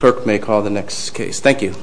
Clerk may call the next case. Thank you.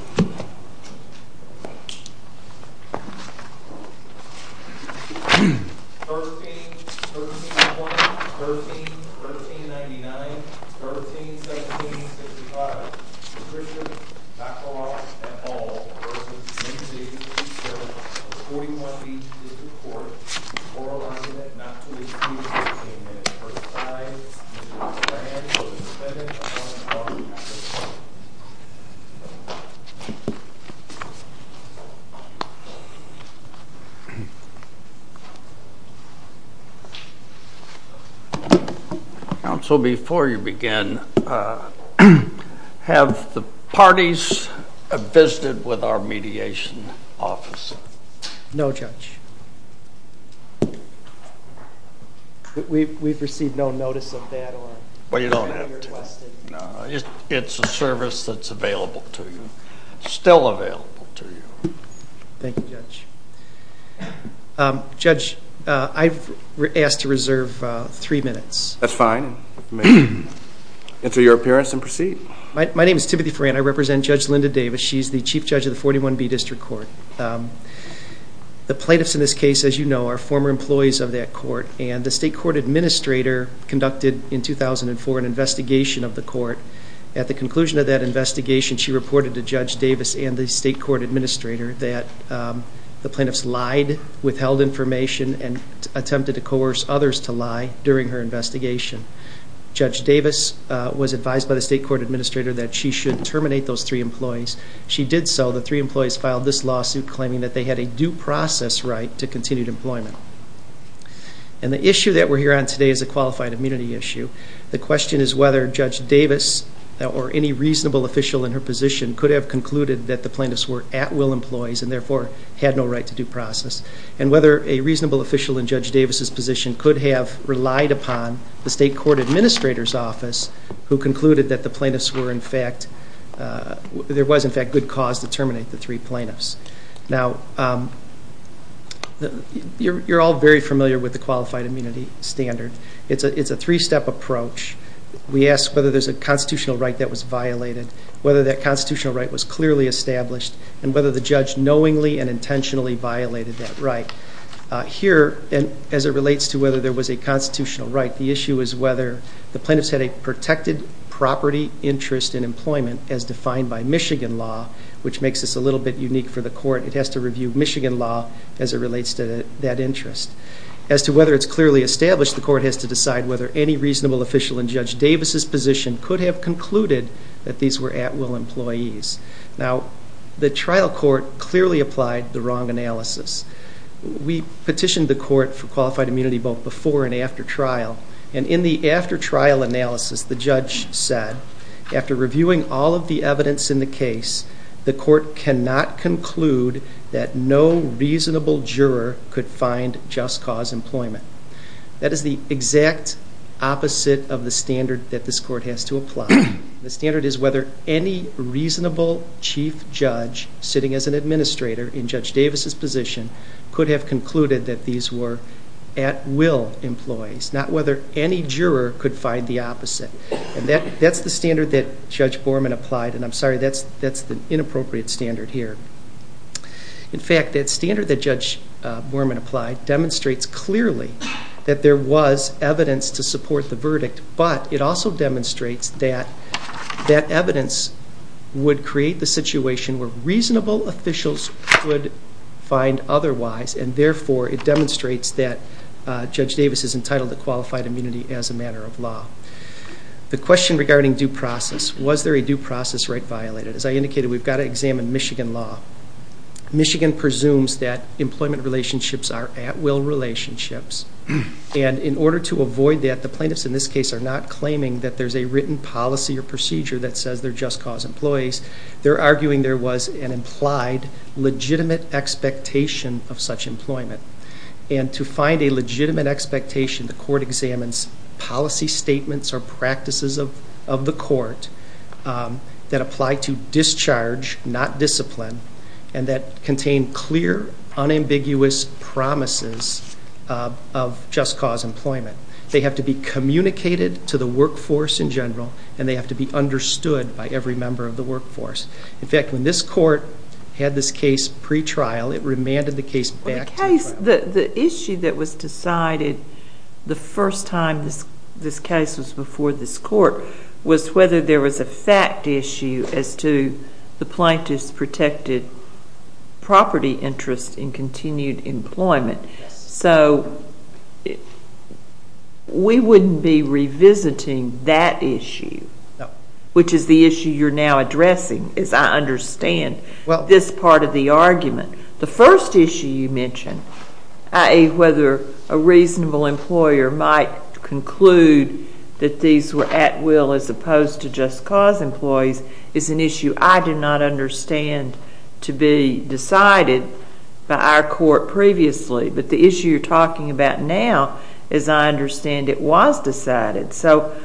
Counsel, before you begin, have the parties visited with our mediation office? No, Judge. We've received no notice of that. Well, you don't have to. It's a service that's available to you, still available to you. Thank you, Judge. Judge, I've asked to reserve three minutes. That's fine. Enter your appearance and proceed. My name is Timothy Farrant. I represent Judge Linda Davis. She's the Chief Judge of the 41B District Court. The plaintiffs in this case, as you know, are former employees of that court, and the State Court Administrator conducted, in 2004, an investigation of the court. At the conclusion of that investigation, she reported to Judge Davis and the State Court Administrator that the plaintiffs lied, withheld information, and attempted to coerce others to lie during her investigation. Judge Davis was advised by the State Court Administrator that she should terminate those three employees. She did so. The three employees filed this lawsuit claiming that they had a due process right to continued employment. And the issue that we're here on today is a qualified immunity issue. The question is whether Judge Davis or any reasonable official in her position could have concluded that the plaintiffs were at-will employees and therefore had no right to due process, and whether a reasonable official in Judge Davis' position could have relied upon the State Court Administrator's office who concluded that there was, in fact, good cause to terminate the three plaintiffs. Now, you're all very familiar with the Qualified Immunity Standard. It's a three-step approach. We ask whether there's a constitutional right that was violated, whether that constitutional right was clearly established, and whether the judge knowingly and intentionally violated that right. Here, as it relates to whether there was a constitutional right, the issue is whether the plaintiffs had a protected property interest in employment as defined by Michigan law, which makes this a little bit unique for the court. It has to review Michigan law as it relates to that interest. As to whether it's clearly established, the court has to decide whether any reasonable official in Judge Davis' position could have concluded that these were at-will employees. Now, the trial court clearly applied the wrong analysis. We petitioned the court for Qualified Immunity both before and after trial, and in the after-trial analysis, the judge said, after reviewing all of the evidence in the case, the court cannot conclude that no reasonable juror could find just-cause employment. That is the exact opposite of the standard that this court has to apply. The standard is whether any reasonable chief judge, sitting as an administrator in Judge Davis' position, could have concluded that these were at-will employees, not whether any juror could find the opposite. That's the standard that Judge Borman applied, and I'm sorry, that's the inappropriate standard here. In fact, that standard that Judge Borman applied demonstrates clearly that there was evidence to support the verdict, but it also demonstrates that that evidence would create the situation where reasonable officials would find otherwise, and therefore it demonstrates that Judge Davis is entitled to Qualified Immunity as a matter of law. The question regarding due process, was there a due process right violated? As I indicated, we've got to examine Michigan law. Michigan presumes that employment relationships are at-will relationships, and in order to avoid that, the plaintiffs in this case are not claiming that there's a written policy or procedure that says they're just-cause employees. They're arguing there was an implied legitimate expectation of such employment, and to find a legitimate expectation, the court examines policy statements or practices of the court that apply to discharge, not discipline, and that contain clear, unambiguous promises of just-cause employment. They have to be communicated to the workforce in general, and they have to be understood by every member of the workforce. In fact, when this court had this case pretrial, it remanded the case back to trial. The issue that was decided the first time this case was before this court was whether there was a fact issue as to the plaintiff's protected property interest in continued employment. So we wouldn't be revisiting that issue, which is the issue you're now addressing, as I understand this part of the argument. The first issue you mentioned, i.e., whether a reasonable employer might conclude that these were at-will as opposed to just-cause employees, is an issue I do not understand to be decided by our court previously. But the issue you're talking about now, as I understand it, was decided. So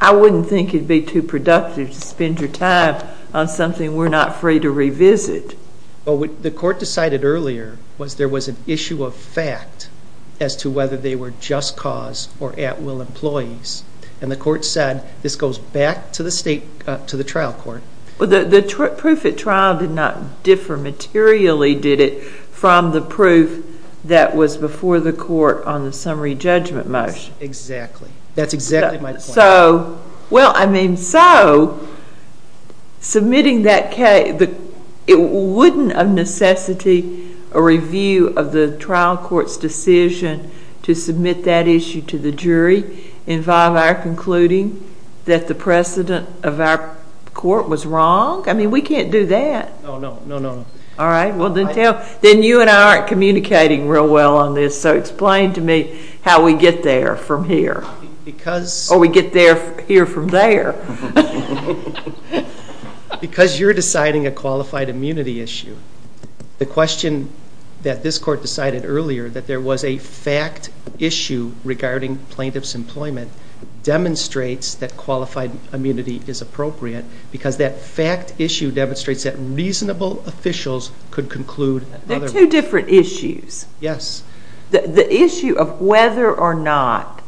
I wouldn't think it would be too productive to spend your time on something we're not free to revisit. Well, what the court decided earlier was there was an issue of fact as to whether they were just-cause or at-will employees, and the court said this goes back to the trial court. The proof at trial did not differ materially, did it, from the proof that was before the court on the summary judgment motion? Exactly. That's exactly my point. Well, I mean, so submitting that case, wouldn't of necessity a review of the trial court's decision to submit that issue to the jury involve our concluding that the precedent of our court was wrong? I mean, we can't do that. No, no, no, no. All right, well, then you and I aren't communicating real well on this, so explain to me how we get there from here. Or we get here from there. Because you're deciding a qualified immunity issue, the question that this court decided earlier, that there was a fact issue regarding plaintiff's employment, demonstrates that qualified immunity is appropriate because that fact issue demonstrates that reasonable officials could conclude otherwise. They're two different issues. Yes. The issue of whether or not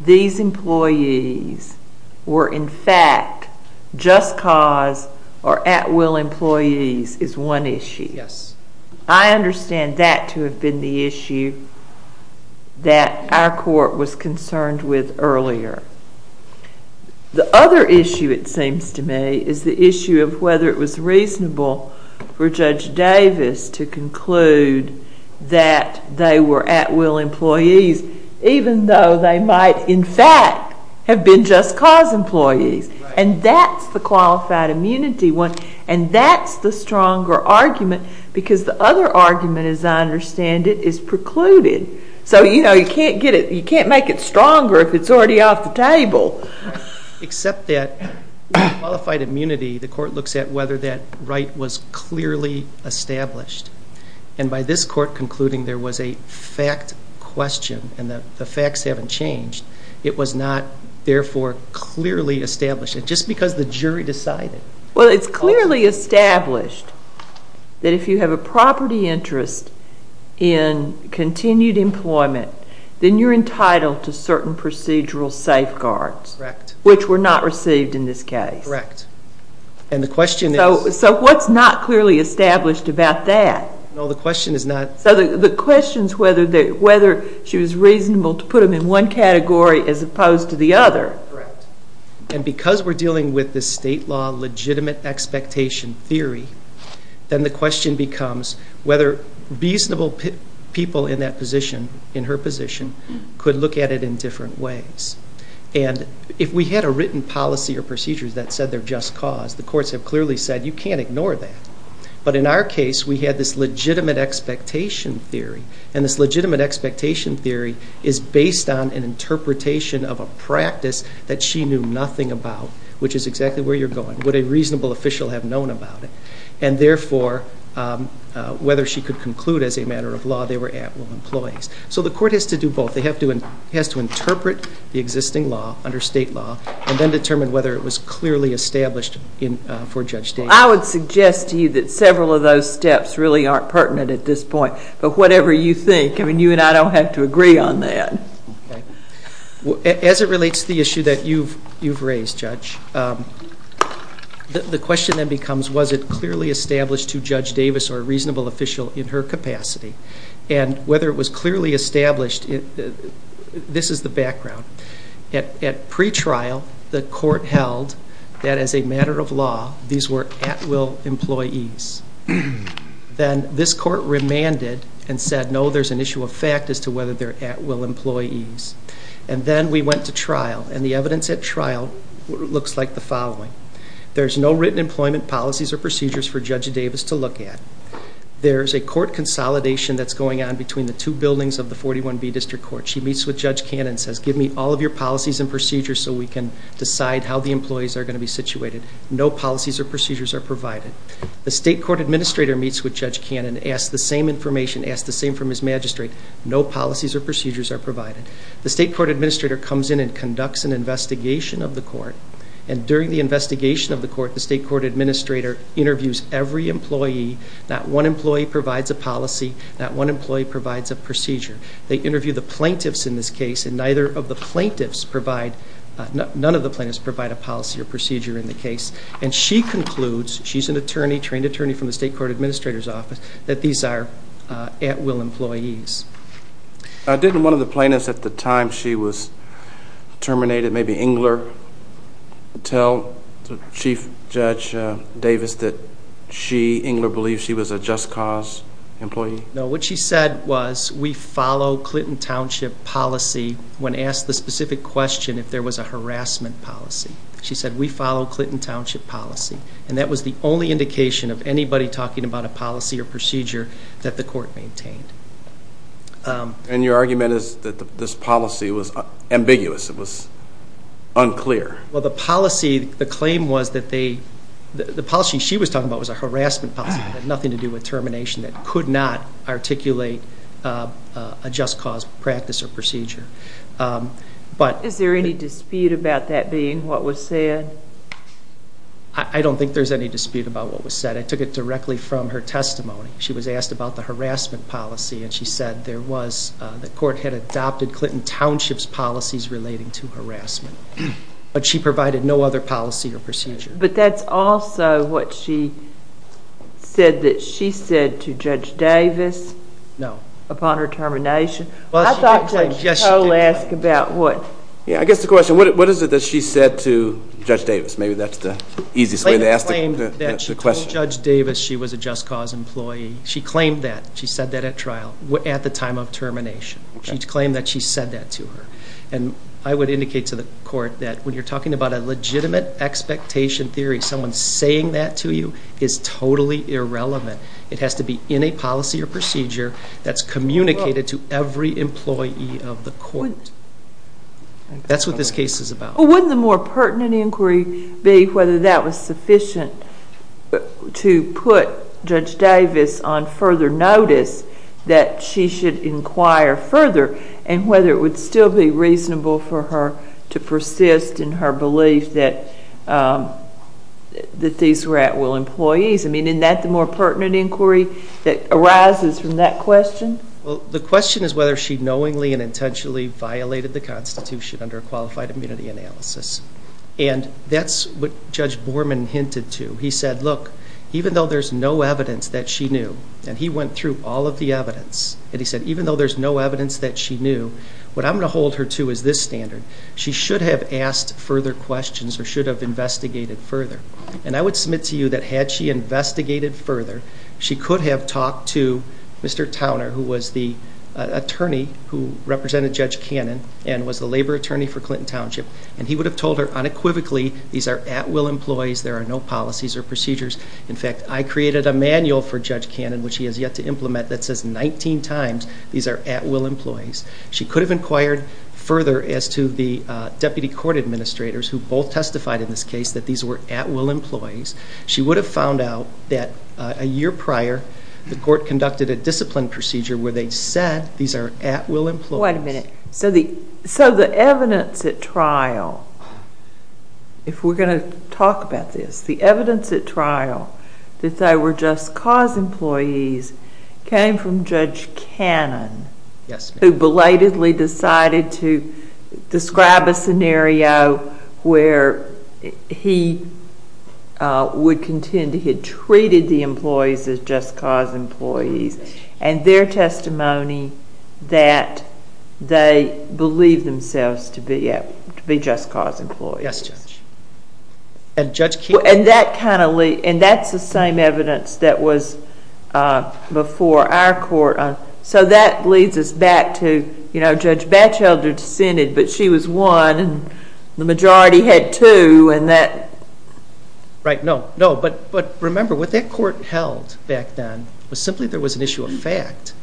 these employees were in fact just cause or at will employees is one issue. Yes. I understand that to have been the issue that our court was concerned with earlier. The other issue, it seems to me, is the issue of whether it was reasonable for Judge Davis to conclude that they were at will employees, even though they might in fact have been just cause employees. Right. And that's the qualified immunity one, and that's the stronger argument because the other argument, as I understand it, is precluded. So, you know, you can't make it stronger if it's already off the table. Except that with qualified immunity, the court looks at whether that right was clearly established. And by this court concluding there was a fact question and the facts haven't changed, it was not therefore clearly established, just because the jury decided. Well, it's clearly established that if you have a property interest in continued employment, then you're entitled to certain procedural safeguards. Correct. Which were not received in this case. Correct. And the question is... So what's not clearly established about that? No, the question is not... So the question is whether she was reasonable to put them in one category as opposed to the other. Correct. And because we're dealing with the state law legitimate expectation theory, then the question becomes whether reasonable people in that position, in her position, could look at it in different ways. And if we had a written policy or procedure that said they're just cause, the courts have clearly said you can't ignore that. But in our case, we had this legitimate expectation theory. And this legitimate expectation theory is based on an interpretation of a practice that she knew nothing about, which is exactly where you're going. Would a reasonable official have known about it? And therefore, whether she could conclude as a matter of law they were at-will employees. So the court has to do both. It has to interpret the existing law under state law and then determine whether it was clearly established for Judge Davis. I would suggest to you that several of those steps really aren't pertinent at this point. But whatever you think. I mean, you and I don't have to agree on that. As it relates to the issue that you've raised, Judge, the question then becomes was it clearly established to Judge Davis or a reasonable official in her capacity? And whether it was clearly established, this is the background. At pretrial, the court held that as a matter of law, these were at-will employees. Then this court remanded and said, no, there's an issue of fact as to whether they're at-will employees. And then we went to trial, and the evidence at trial looks like the following. There's no written employment policies or procedures for Judge Davis to look at. There's a court consolidation that's going on between the two buildings of the 41B District Court. She meets with Judge Cannon and says, give me all of your policies and procedures so we can decide how the employees are going to be situated. No policies or procedures are provided. The state court administrator meets with Judge Cannon, asks the same information, asks the same from his magistrate. No policies or procedures are provided. The state court administrator comes in and conducts an investigation of the court. And during the investigation of the court, the state court administrator interviews every employee. Not one employee provides a policy. Not one employee provides a procedure. They interview the plaintiffs in this case, and none of the plaintiffs provide a policy or procedure in the case. And she concludes, she's an attorney, trained attorney from the state court administrator's office, that these are at-will employees. Didn't one of the plaintiffs at the time she was terminated, maybe Engler, tell Chief Judge Davis that she, Engler, believed she was a just cause employee? No, what she said was, we follow Clinton Township policy when asked the specific question if there was a harassment policy. She said, we follow Clinton Township policy. And that was the only indication of anybody talking about a policy or procedure that the court maintained. And your argument is that this policy was ambiguous. It was unclear. Well, the policy, the claim was that the policy she was talking about was a harassment policy. It had nothing to do with termination. It could not articulate a just cause practice or procedure. Is there any dispute about that being what was said? I don't think there's any dispute about what was said. I took it directly from her testimony. She was asked about the harassment policy, and she said there was, the court had adopted Clinton Township's policies relating to harassment. But she provided no other policy or procedure. But that's also what she said that she said to Judge Davis upon her termination. I thought Judge Cato asked about what. I guess the question, what is it that she said to Judge Davis? Maybe that's the easiest way to ask the question. She claimed that she told Judge Davis she was a just cause employee. She claimed that. She said that at trial, at the time of termination. She claimed that she said that to her. And I would indicate to the court that when you're talking about a legitimate expectation theory, someone saying that to you is totally irrelevant. It has to be in a policy or procedure that's communicated to every employee of the court. That's what this case is about. Wouldn't the more pertinent inquiry be whether that was sufficient to put Judge Davis on further notice that she should inquire further and whether it would still be reasonable for her to persist in her belief that these were at-will employees? I mean, isn't that the more pertinent inquiry that arises from that question? Well, the question is whether she knowingly and intentionally violated the Constitution under a qualified immunity analysis. And that's what Judge Borman hinted to. He said, look, even though there's no evidence that she knew, and he went through all of the evidence, and he said even though there's no evidence that she knew, what I'm going to hold her to is this standard. She should have asked further questions or should have investigated further. And I would submit to you that had she investigated further, she could have talked to Mr. Towner, who was the attorney who represented Judge Cannon and was the labor attorney for Clinton Township, and he would have told her unequivocally, these are at-will employees, there are no policies or procedures. In fact, I created a manual for Judge Cannon, which he has yet to implement, that says 19 times these are at-will employees. She could have inquired further as to the deputy court administrators, who both testified in this case that these were at-will employees. She would have found out that a year prior the court conducted a discipline procedure where they said these are at-will employees. Wait a minute. So the evidence at trial, if we're going to talk about this, the evidence at trial that they were just cause employees came from Judge Cannon. Yes. Who belatedly decided to describe a scenario where he would contend he had treated the employees as just cause employees and their testimony that they believed themselves to be just cause employees. Yes, Judge. And Judge Cannon... And that's the same evidence that was before our court. So that leads us back to, you know, Judge Batchelder dissented, but she was one and the majority had two and that... Right. No, no. But remember, what that court held back then was simply there was an issue of fact,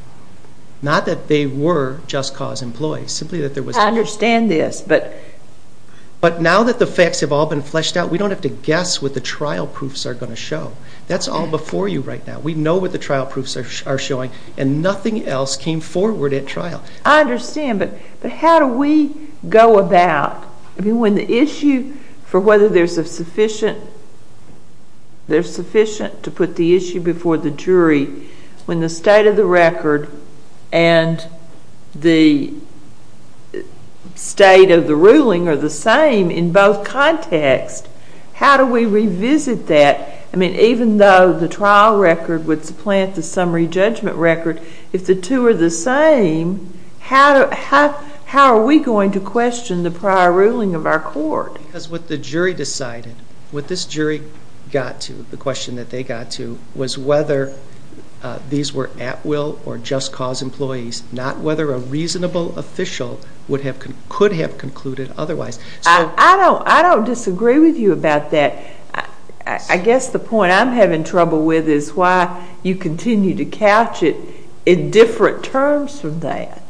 not that they were just cause employees, simply that there was... I understand this, but... But now that the facts have all been fleshed out, we don't have to guess what the trial proofs are going to show. That's all before you right now. We know what the trial proofs are showing, and nothing else came forward at trial. I understand, but how do we go about... I mean, when the issue for whether there's a sufficient... there's sufficient to put the issue before the jury, when the state of the record and the state of the ruling are the same in both contexts, how do we revisit that? I mean, even though the trial record would supplant the summary judgment record, if the two are the same, how are we going to question the prior ruling of our court? Because what the jury decided, what this jury got to, the question that they got to was whether these were at will or just cause employees, not whether a reasonable official could have concluded otherwise. I don't disagree with you about that. I guess the point I'm having trouble with is why you continue to couch it in different terms from that.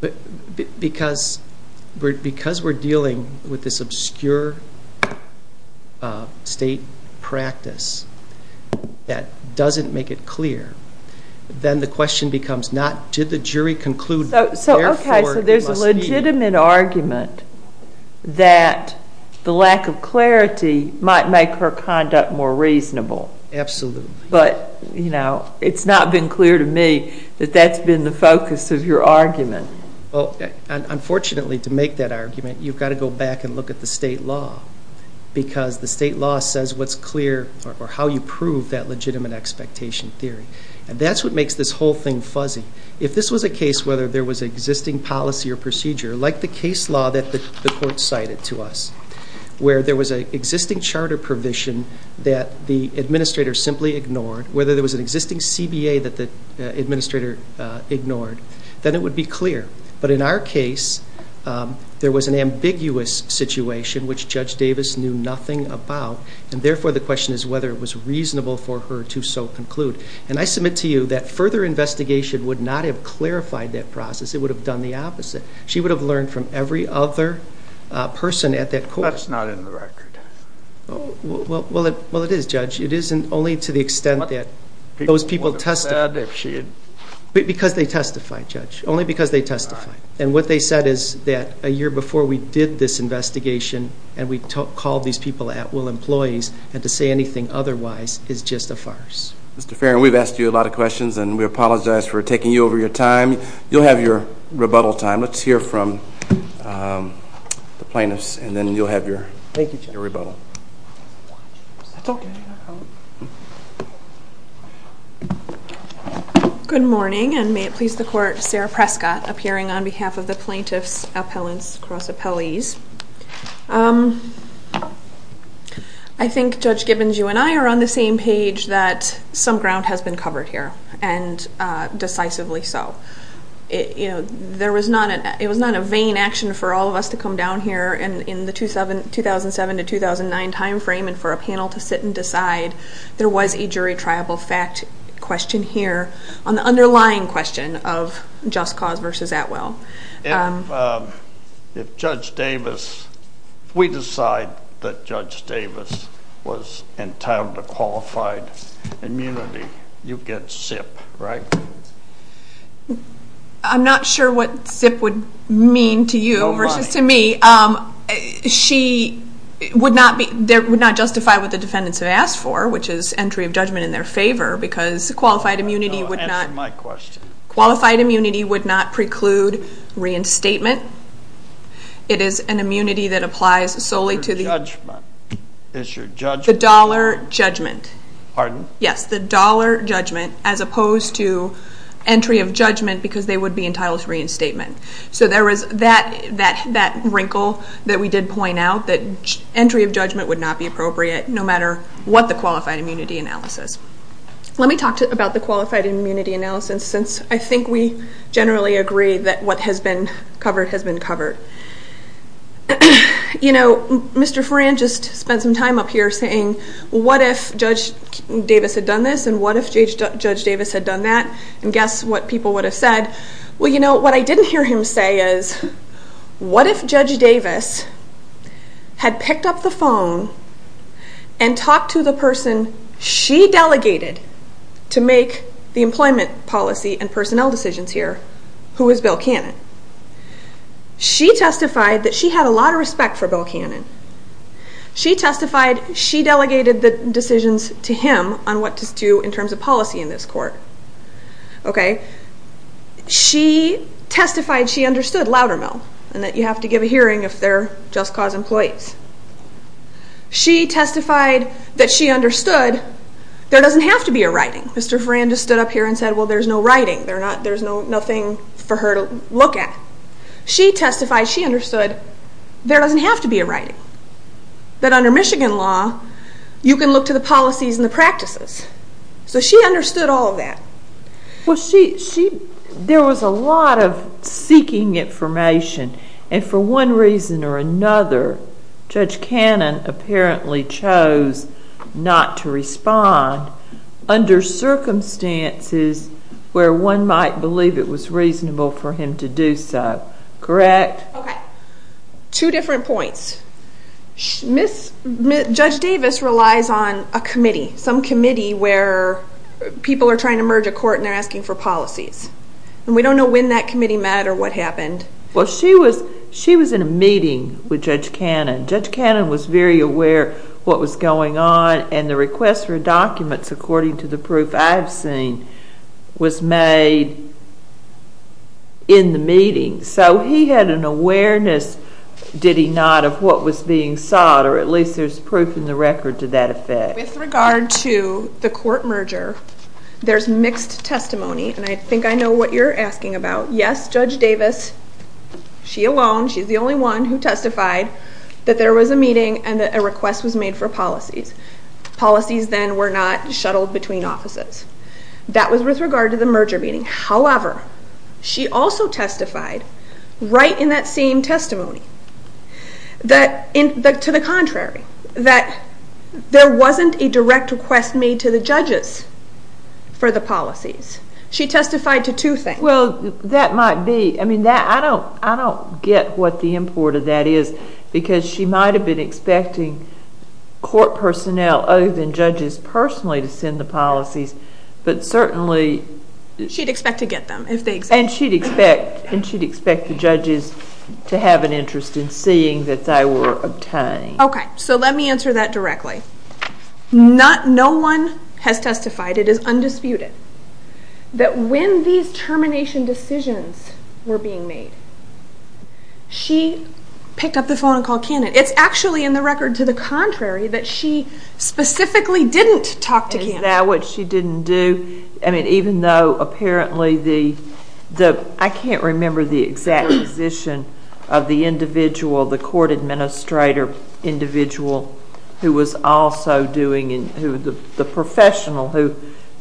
But because we're dealing with this obscure state practice that doesn't make it clear, then the question becomes not did the jury conclude, therefore, it must be... might make her conduct more reasonable. Absolutely. But, you know, it's not been clear to me that that's been the focus of your argument. Well, unfortunately, to make that argument, you've got to go back and look at the state law because the state law says what's clear or how you prove that legitimate expectation theory. And that's what makes this whole thing fuzzy. If this was a case whether there was existing policy or procedure, like the case law that the court cited to us, where there was an existing charter provision that the administrator simply ignored, whether there was an existing CBA that the administrator ignored, then it would be clear. But in our case, there was an ambiguous situation which Judge Davis knew nothing about, and therefore the question is whether it was reasonable for her to so conclude. And I submit to you that further investigation would not have clarified that process. It would have done the opposite. She would have learned from every other person at that court. That's not in the record. Well, it is, Judge. It is only to the extent that those people testified. Because they testified, Judge. Only because they testified. And what they said is that a year before we did this investigation and we called these people at-will employees and to say anything otherwise is just a farce. Mr. Farron, we've asked you a lot of questions, and we apologize for taking you over your time. You'll have your rebuttal time. Let's hear from the plaintiffs, and then you'll have your rebuttal. Thank you, Judge. That's okay. Good morning, and may it please the Court, Sarah Prescott, appearing on behalf of the plaintiffs' appellants cross-appellees. I think, Judge Gibbons, you and I are on the same page that some ground has been covered here, and decisively so. It was not a vain action for all of us to come down here in the 2007-2009 timeframe and for a panel to sit and decide. There was a jury triable fact question here on the underlying question of Just Cause v. At-Will. If Judge Davis, if we decide that Judge Davis was entitled to qualified immunity, you get SIP, right? I'm not sure what SIP would mean to you versus to me. She would not justify what the defendants have asked for, which is entry of judgment in their favor, because qualified immunity would not preclude reinstatement. It is an immunity that applies solely to the dollar judgment. Pardon? Yes, the dollar judgment, as opposed to entry of judgment because they would be entitled to reinstatement. So there was that wrinkle that we did point out, that entry of judgment would not be appropriate, no matter what the qualified immunity analysis. Let me talk about the qualified immunity analysis, since I think we generally agree that what has been covered has been covered. You know, Mr. Farran just spent some time up here saying, what if Judge Davis had done this and what if Judge Davis had done that? And guess what people would have said? Well, you know, what I didn't hear him say is, what if Judge Davis had picked up the phone and talked to the person she delegated to make the employment policy and personnel decisions here, who was Bill Cannon? She testified that she had a lot of respect for Bill Cannon. She testified she delegated the decisions to him on what to do in terms of policy in this court. She testified she understood, louder now, that you have to give a hearing if they're just cause employees. She testified that she understood there doesn't have to be a writing. Mr. Farran just stood up here and said, well, there's no writing. There's nothing for her to look at. She testified she understood there doesn't have to be a writing, that under Michigan law, you can look to the policies and the practices. So she understood all of that. Well, there was a lot of seeking information, and for one reason or another, Judge Cannon apparently chose not to respond under circumstances where one might believe it was reasonable for him to do so. Correct? Okay. Two different points. Judge Davis relies on a committee, some committee where people are trying to merge a court and they're asking for policies, and we don't know when that committee met or what happened. Well, she was in a meeting with Judge Cannon. Judge Cannon was very aware of what was going on, and the request for documents, according to the proof I've seen, was made in the meeting. So he had an awareness, did he not, of what was being sought, or at least there's proof in the record to that effect. With regard to the court merger, there's mixed testimony, and I think I know what you're asking about. Yes, Judge Davis, she alone, she's the only one who testified that there was a meeting and that a request was made for policies. Policies then were not shuttled between offices. That was with regard to the merger meeting. However, she also testified right in that same testimony to the contrary, that there wasn't a direct request made to the judges for the policies. She testified to two things. Well, that might be. I don't get what the import of that is, because she might have been expecting court personnel other than judges personally to send the policies, but certainly she'd expect to get them if they existed. And she'd expect the judges to have an interest in seeing that they were obtained. Okay, so let me answer that directly. No one has testified, it is undisputed, that when these termination decisions were being made, she picked up the phone and called Cannon. It's actually in the record to the contrary that she specifically didn't talk to Cannon. Is that what she didn't do? I mean, even though apparently the, I can't remember the exact position of the individual, the court administrator individual who was also doing, the professional,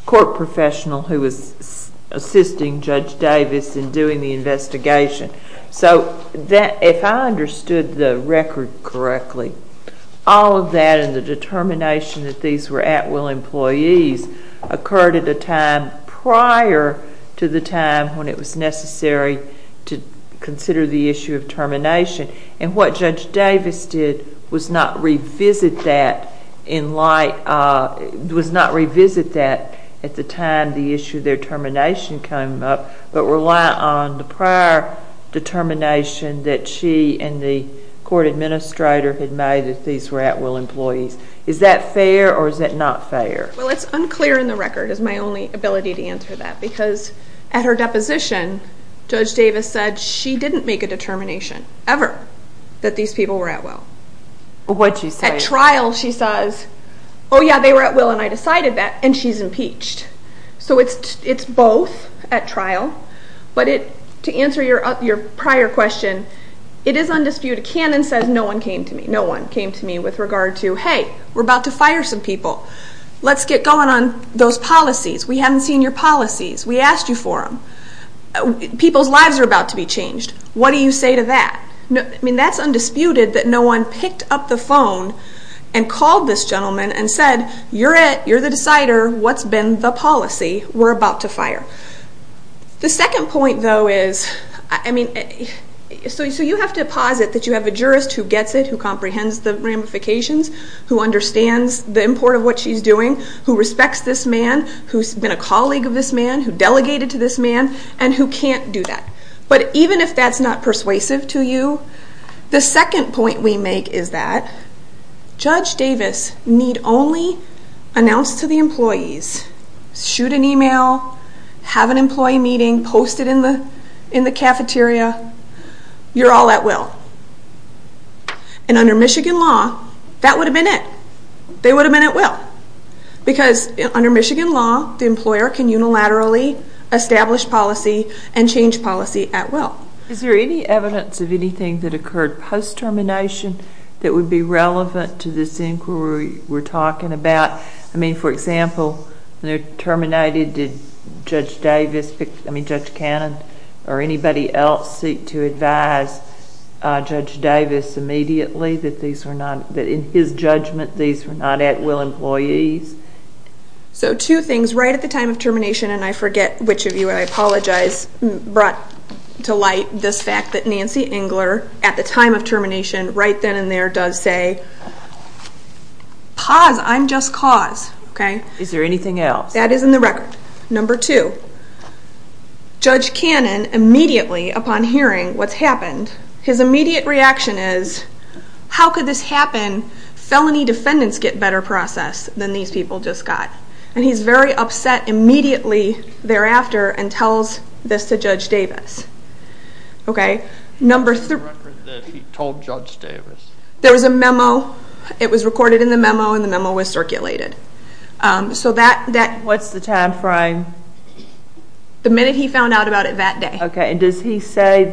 court professional who was assisting Judge Davis in doing the investigation. So if I understood the record correctly, all of that and the determination that these were at-will employees occurred at a time prior to the time when it was necessary to consider the issue of termination. And what Judge Davis did was not revisit that in light, was not revisit that at the time the issue of their termination came up, but rely on the prior determination that she and the court administrator had made that these were at-will employees. Is that fair or is that not fair? Well, it's unclear in the record is my only ability to answer that because at her deposition, Judge Davis said she didn't make a determination ever that these people were at-will. What did she say? At trial she says, oh yeah, they were at-will and I decided that, and she's impeached. So it's both at trial, but to answer your prior question, it is undisputed. Cannon says no one came to me. No one came to me with regard to, hey, we're about to fire some people. Let's get going on those policies. We haven't seen your policies. We asked you for them. People's lives are about to be changed. What do you say to that? I mean, that's undisputed that no one picked up the phone and called this gentleman and said, you're it. You're the decider. What's been the policy? We're about to fire. The second point, though, is, I mean, so you have to posit that you have a jurist who gets it, who comprehends the ramifications, who understands the import of what she's doing, who respects this man, who's been a colleague of this man, who delegated to this man, and who can't do that. But even if that's not persuasive to you, the second point we make is that Judge Davis need only announce to the employees, shoot an email, have an employee meeting, post it in the cafeteria, you're all at-will. And under Michigan law, that would have been it. They would have been at-will. Because under Michigan law, the employer can unilaterally establish policy and change policy at-will. Is there any evidence of anything that occurred post-termination that would be relevant to this inquiry we're talking about? I mean, for example, when they're terminated, did Judge Davis, I mean Judge Cannon, or anybody else seek to advise Judge Davis immediately that in his judgment these were not at-will employees? So two things. Right at the time of termination, and I forget which of you, and I apologize, brought to light this fact that Nancy Engler, at the time of termination, right then and there does say, pause, I'm just cause. Is there anything else? That is in the record. Number two. Judge Cannon, immediately upon hearing what's happened, his immediate reaction is, how could this happen? Felony defendants get better process than these people just got. And he's very upset immediately thereafter and tells this to Judge Davis. Number three. The record that he told Judge Davis. There was a memo. It was recorded in the memo, and the memo was circulated. What's the time frame? The minute he found out about it that day. Okay. And does he say,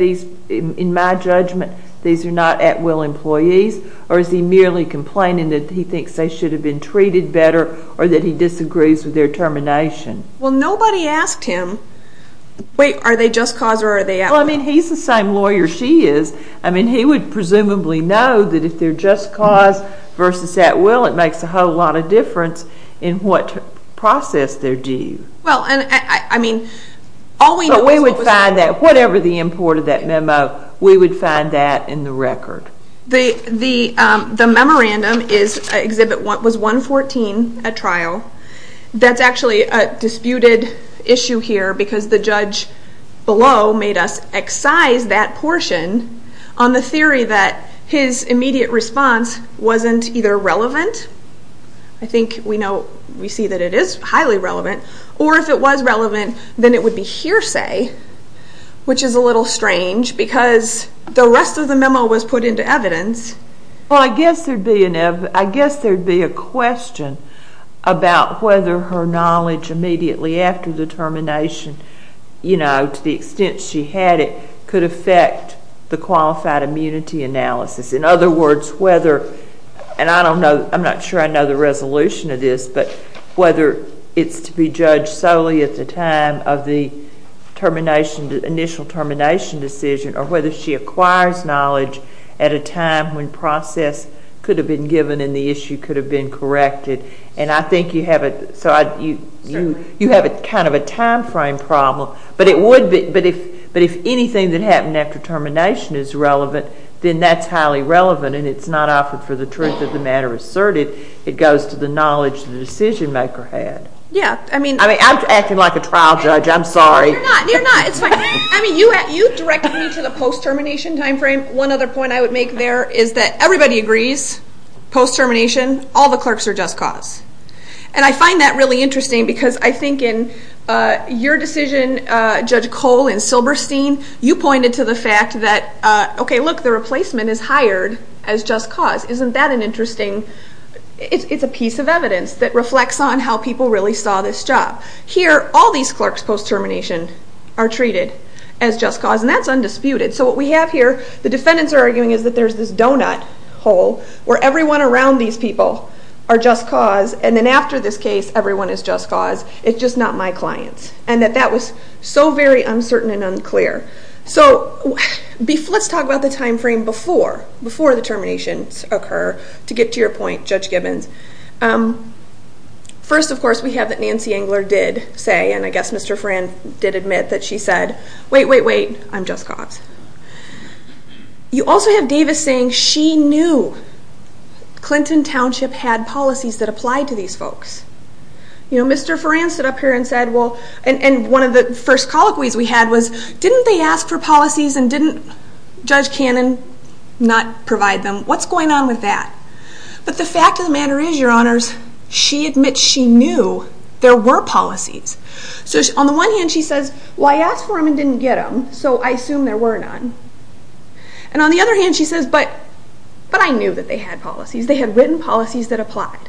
in my judgment, these are not at-will employees, or is he merely complaining that he thinks they should have been treated better or that he disagrees with their termination? Well, nobody asked him, wait, are they just cause or are they at-will? Well, I mean, he's the same lawyer she is. I mean, he would presumably know that if they're just cause versus at-will, it makes a whole lot of difference in what process they're due. Well, I mean, all we know is what was at-will. But we would find that whatever the import of that memo, we would find that in the record. The memorandum was 114 at trial. That's actually a disputed issue here because the judge below made us excise that portion on the theory that his immediate response wasn't either relevant. I think we see that it is highly relevant. Or if it was relevant, then it would be hearsay, which is a little strange because the rest of the memo was put into evidence. Well, I guess there would be a question about whether her knowledge immediately after the termination, to the extent she had it, could affect the qualified immunity analysis. In other words, whether, and I don't know, I'm not sure I know the resolution of this, but whether it's to be judged solely at the time of the initial termination decision or whether she acquires knowledge at a time when process could have been given and the issue could have been corrected. And I think you have kind of a time frame problem. But if anything that happened after termination is relevant, then that's highly relevant and it's not offered for the truth of the matter asserted. It goes to the knowledge the decision-maker had. I'm acting like a trial judge. I'm sorry. You're not. You're not. It's fine. You directed me to the post-termination time frame. One other point I would make there is that everybody agrees, post-termination, all the clerks are just cause. And I find that really interesting because I think in your decision, Judge Cole and Silberstein, you pointed to the fact that, okay, look, the replacement is hired as just cause. Isn't that an interesting, it's a piece of evidence that reflects on how people really saw this job. Here, all these clerks post-termination are treated as just cause, and that's undisputed. So what we have here, the defendants are arguing is that there's this donut hole where everyone around these people are just cause, and then after this case, everyone is just cause. It's just not my clients, and that that was so very uncertain and unclear. So let's talk about the time frame before the terminations occur to get to your point, Judge Gibbons. First, of course, we have that Nancy Engler did say, and I guess Mr. Fran did admit that she said, wait, wait, wait, I'm just cause. You also have Davis saying she knew Clinton Township had policies that applied to these folks. Mr. Fran stood up here and said, well, and one of the first colloquies we had was, didn't they ask for policies and didn't Judge Cannon not provide them? What's going on with that? But the fact of the matter is, your honors, she admits she knew there were policies. So on the one hand, she says, well, I asked for them and didn't get them, so I assume there were none. And on the other hand, she says, but I knew that they had policies. They had written policies that applied.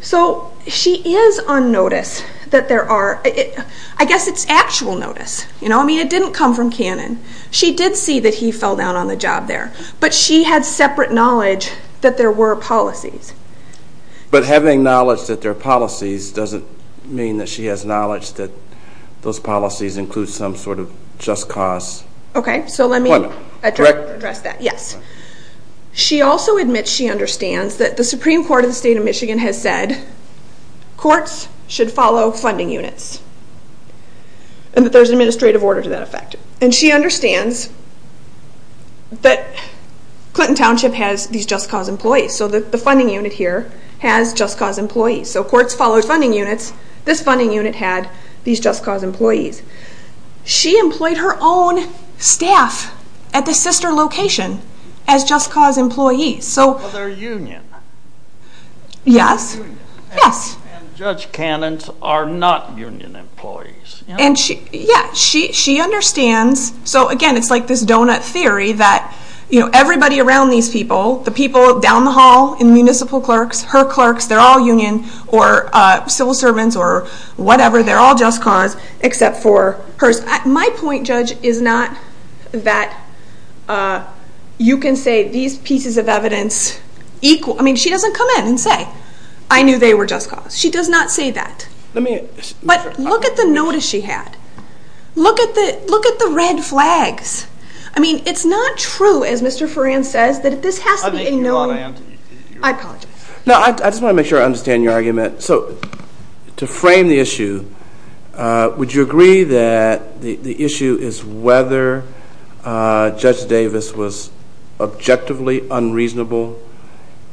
So she is on notice that there are, I guess it's actual notice. I mean, it didn't come from Cannon. She did see that he fell down on the job there, but she had separate knowledge that there were policies. But having knowledge that there are policies doesn't mean that she has knowledge that those policies include some sort of just cause. Okay, so let me address that. Yes. She also admits she understands that the Supreme Court of the State of Michigan has said courts should follow funding units and that there's an administrative order to that effect. And she understands that Clinton Township has these just cause employees. So the funding unit here has just cause employees. So courts follow funding units. This funding unit had these just cause employees. She employed her own staff at the sister location as just cause employees. But they're union. Yes. And Judge Cannon's are not union employees. Yeah, she understands. So, again, it's like this donut theory that everybody around these people, the people down the hall in municipal clerks, her clerks, they're all union or civil servants or whatever. They're all just cause except for hers. My point, Judge, is not that you can say these pieces of evidence equal. I mean, she doesn't come in and say, I knew they were just cause. She does not say that. But look at the notice she had. Look at the red flags. I mean, it's not true, as Mr. Ferrand says, that this has to be a notice. I apologize. No, I just want to make sure I understand your argument. So to frame the issue, would you agree that the issue is whether Judge Davis was objectively unreasonable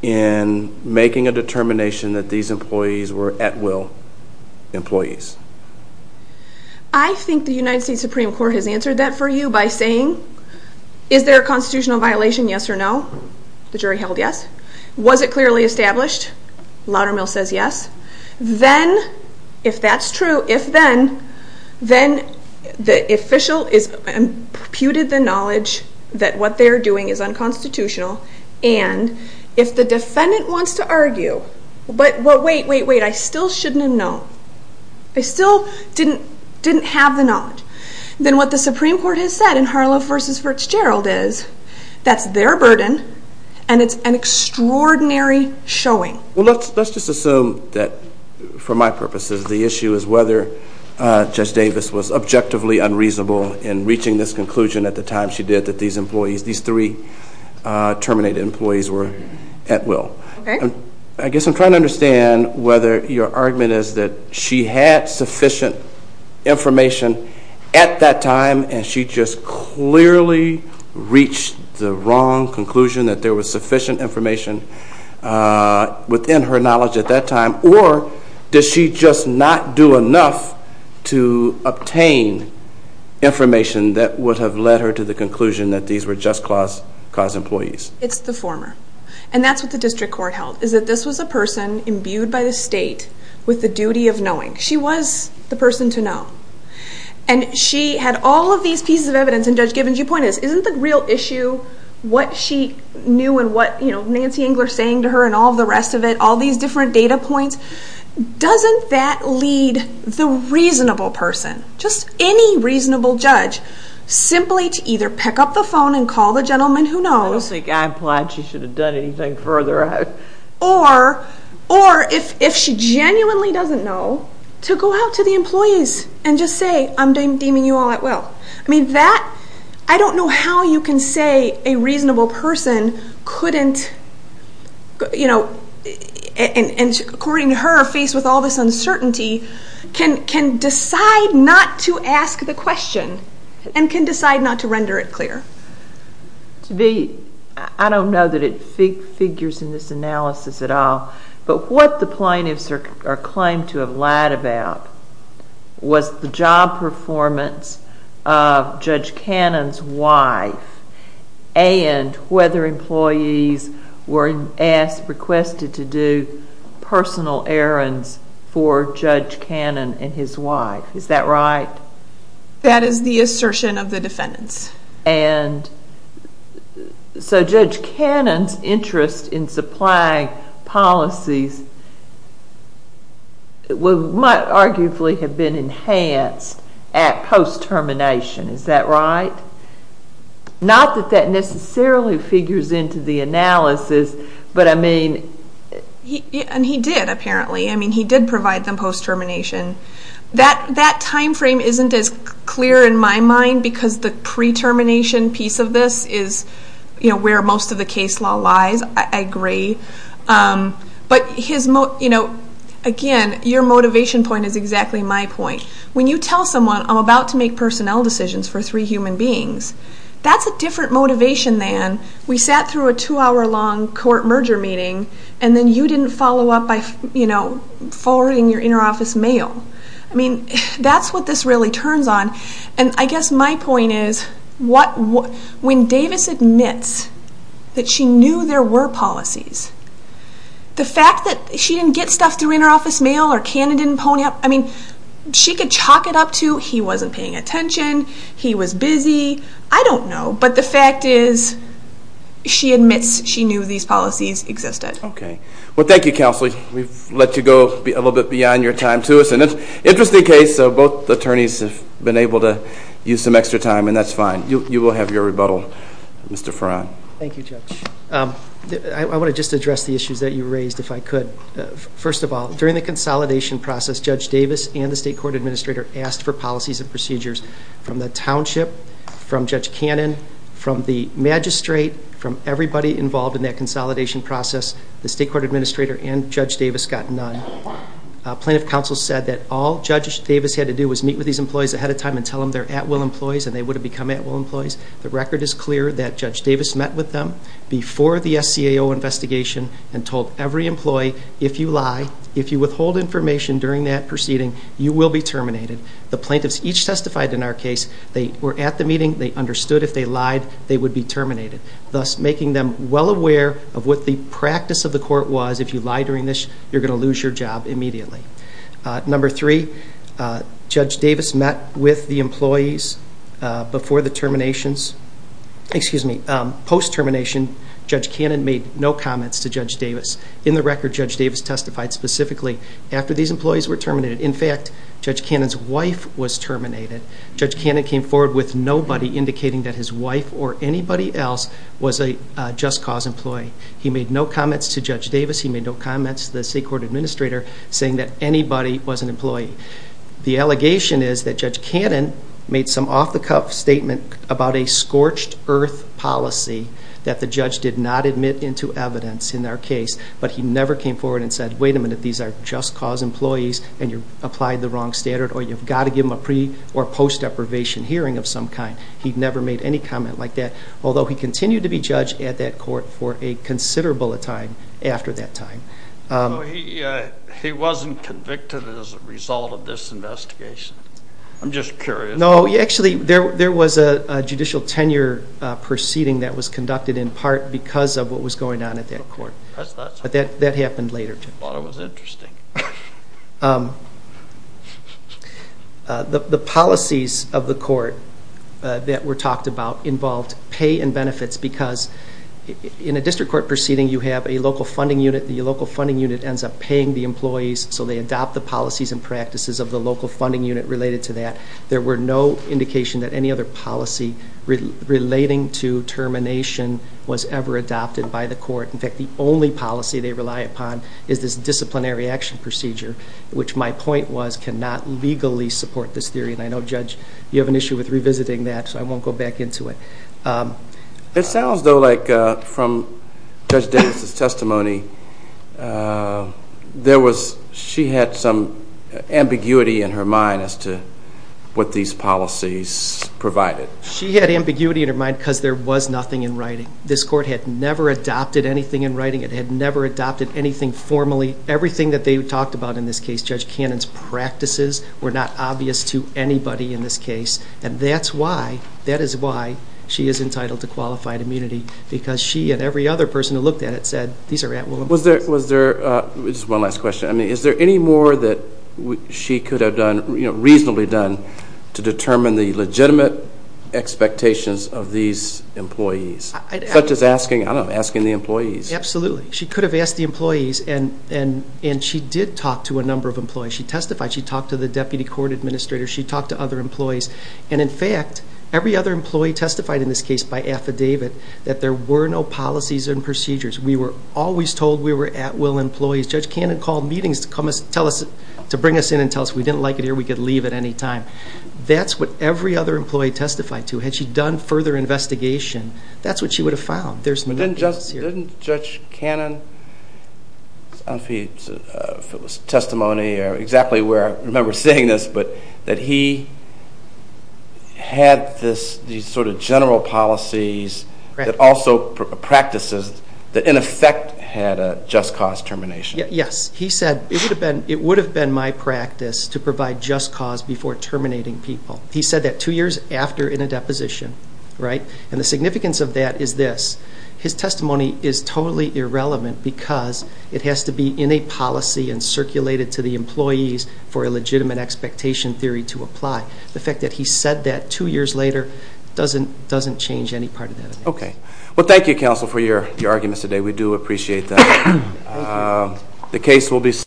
in making a determination that these employees were at-will employees? I think the United States Supreme Court has answered that for you by saying, is there a constitutional violation, yes or no? The jury held yes. Was it clearly established? Laudermill says yes. Then, if that's true, if then, then the official has imputed the knowledge that what they're doing is unconstitutional and if the defendant wants to argue, but wait, wait, wait, I still shouldn't have known, I still didn't have the knowledge, then what the Supreme Court has said in Harlow v. Furtzgerald is that's their burden and it's an extraordinary showing. Well, let's just assume that, for my purposes, the issue is whether Judge Davis was objectively unreasonable in reaching this conclusion at the time she did that these employees, these three terminated employees were at-will. I guess I'm trying to understand whether your argument is that she had sufficient information at that time and she just clearly reached the wrong conclusion, that there was sufficient information within her knowledge at that time, or does she just not do enough to obtain information that would have led her to the conclusion that these were just cause employees? It's the former. And that's what the district court held, is that this was a person imbued by the state with the duty of knowing. She was the person to know. And she had all of these pieces of evidence, and Judge Givens, your point is, isn't the real issue what she knew and what Nancy Engler is saying to her and all the rest of it, all these different data points, doesn't that lead the reasonable person, just any reasonable judge, simply to either pick up the phone and call the gentleman who knows. I don't think I'm glad she should have done anything further. Or if she genuinely doesn't know, to go out to the employees and just say, I'm deeming you all at will. I don't know how you can say a reasonable person couldn't, and according to her, faced with all this uncertainty, can decide not to ask the question and can decide not to render it clear. To me, I don't know that it figures in this analysis at all, but what the plaintiffs are claimed to have lied about was the job performance of Judge Cannon's wife and whether employees were requested to do personal errands for Judge Cannon and his wife. Is that right? That is the assertion of the defendants. And so Judge Cannon's interest in supplying policies might arguably have been enhanced at post-termination. Is that right? Not that that necessarily figures into the analysis, but I mean... And he did, apparently. I mean, he did provide them post-termination. That time frame isn't as clear in my mind because the pre-termination piece of this is where most of the case law lies. I agree. But again, your motivation point is exactly my point. When you tell someone, I'm about to make personnel decisions for three human beings, that's a different motivation than we sat through a two-hour long court merger meeting and then you didn't follow up by forwarding your inner office mail. I mean, that's what this really turns on. And I guess my point is, when Davis admits that she knew there were policies, the fact that she didn't get stuff through inner office mail or Cannon didn't pony up, I mean, she could chalk it up to he wasn't paying attention, he was busy, I don't know. But the fact is she admits she knew these policies existed. Okay. Well, thank you, Counselee. We've let you go a little bit beyond your time to us. It's an interesting case. Both attorneys have been able to use some extra time, and that's fine. You will have your rebuttal. Mr. Farran. Thank you, Judge. I want to just address the issues that you raised, if I could. First of all, during the consolidation process, Judge Davis and the State Court Administrator asked for policies and procedures from the Township, from Judge Cannon, from the Magistrate, from everybody involved in that consolidation process, the State Court Administrator and Judge Davis got none. Plaintiff counsel said that all Judge Davis had to do was meet with these employees ahead of time and tell them they're at-will employees and they would have become at-will employees. The record is clear that Judge Davis met with them before the SCAO investigation and told every employee, if you lie, if you withhold information during that proceeding, you will be terminated. The plaintiffs each testified in our case. They were at the meeting. They understood if they lied, they would be terminated, thus making them well aware of what the practice of the court was. If you lie during this, you're going to lose your job immediately. Number three, Judge Davis met with the employees before the terminations. Excuse me, post-termination, Judge Cannon made no comments to Judge Davis. In the record, Judge Davis testified specifically after these employees were terminated. In fact, Judge Cannon's wife was terminated. Judge Cannon came forward with nobody indicating that his wife or anybody else was a just cause employee. He made no comments to Judge Davis. He made no comments to the state court administrator saying that anybody was an employee. The allegation is that Judge Cannon made some off-the-cuff statement about a scorched-earth policy that the judge did not admit into evidence in our case, but he never came forward and said, wait a minute, these are just cause employees and you applied the wrong standard or you've got to give them a pre- or post-deprivation hearing of some kind. He never made any comment like that, although he continued to be judged at that court for a considerable time after that time. He wasn't convicted as a result of this investigation? I'm just curious. No, actually, there was a judicial tenure proceeding that was conducted in part because of what was going on at that court, but that happened later. I thought it was interesting. The policies of the court that were talked about involved pay and benefits because in a district court proceeding, you have a local funding unit. The local funding unit ends up paying the employees, so they adopt the policies and practices of the local funding unit related to that. There were no indications that any other policy relating to termination was ever adopted by the court. In fact, the only policy they rely upon is this disciplinary action procedure, which my point was cannot legally support this theory. I know, Judge, you have an issue with revisiting that, so I won't go back into it. It sounds, though, like from Judge Davis' testimony, she had some ambiguity in her mind as to what these policies provided. She had ambiguity in her mind because there was nothing in writing. This court had never adopted anything in writing. It had never adopted anything formally. Everything that they talked about in this case, Judge Cannon's practices, were not obvious to anybody in this case. And that is why she is entitled to qualified immunity because she and every other person who looked at it said these are at will employees. Just one last question. Is there any more that she could have reasonably done to determine the legitimate expectations of these employees, such as asking the employees? Absolutely. She could have asked the employees, and she did talk to a number of employees. She testified. She talked to the deputy court administrator. She talked to other employees. And, in fact, every other employee testified in this case by affidavit that there were no policies and procedures. We were always told we were at will employees. Judge Cannon called meetings to bring us in and tell us we didn't like it here, we could leave at any time. That's what every other employee testified to. Had she done further investigation, that's what she would have found. There's no cases here. Didn't Judge Cannon's testimony exactly where I remember seeing this, but that he had these sort of general policies that also practices that in effect had a just cause termination? Yes. He said it would have been my practice to provide just cause before terminating people. He said that two years after in a deposition, right? And the significance of that is this. His testimony is totally irrelevant because it has to be in a policy and circulated to the employees for a legitimate expectation theory to apply. The fact that he said that two years later doesn't change any part of that. Okay. Well, thank you, counsel, for your arguments today. We do appreciate them. Thank you.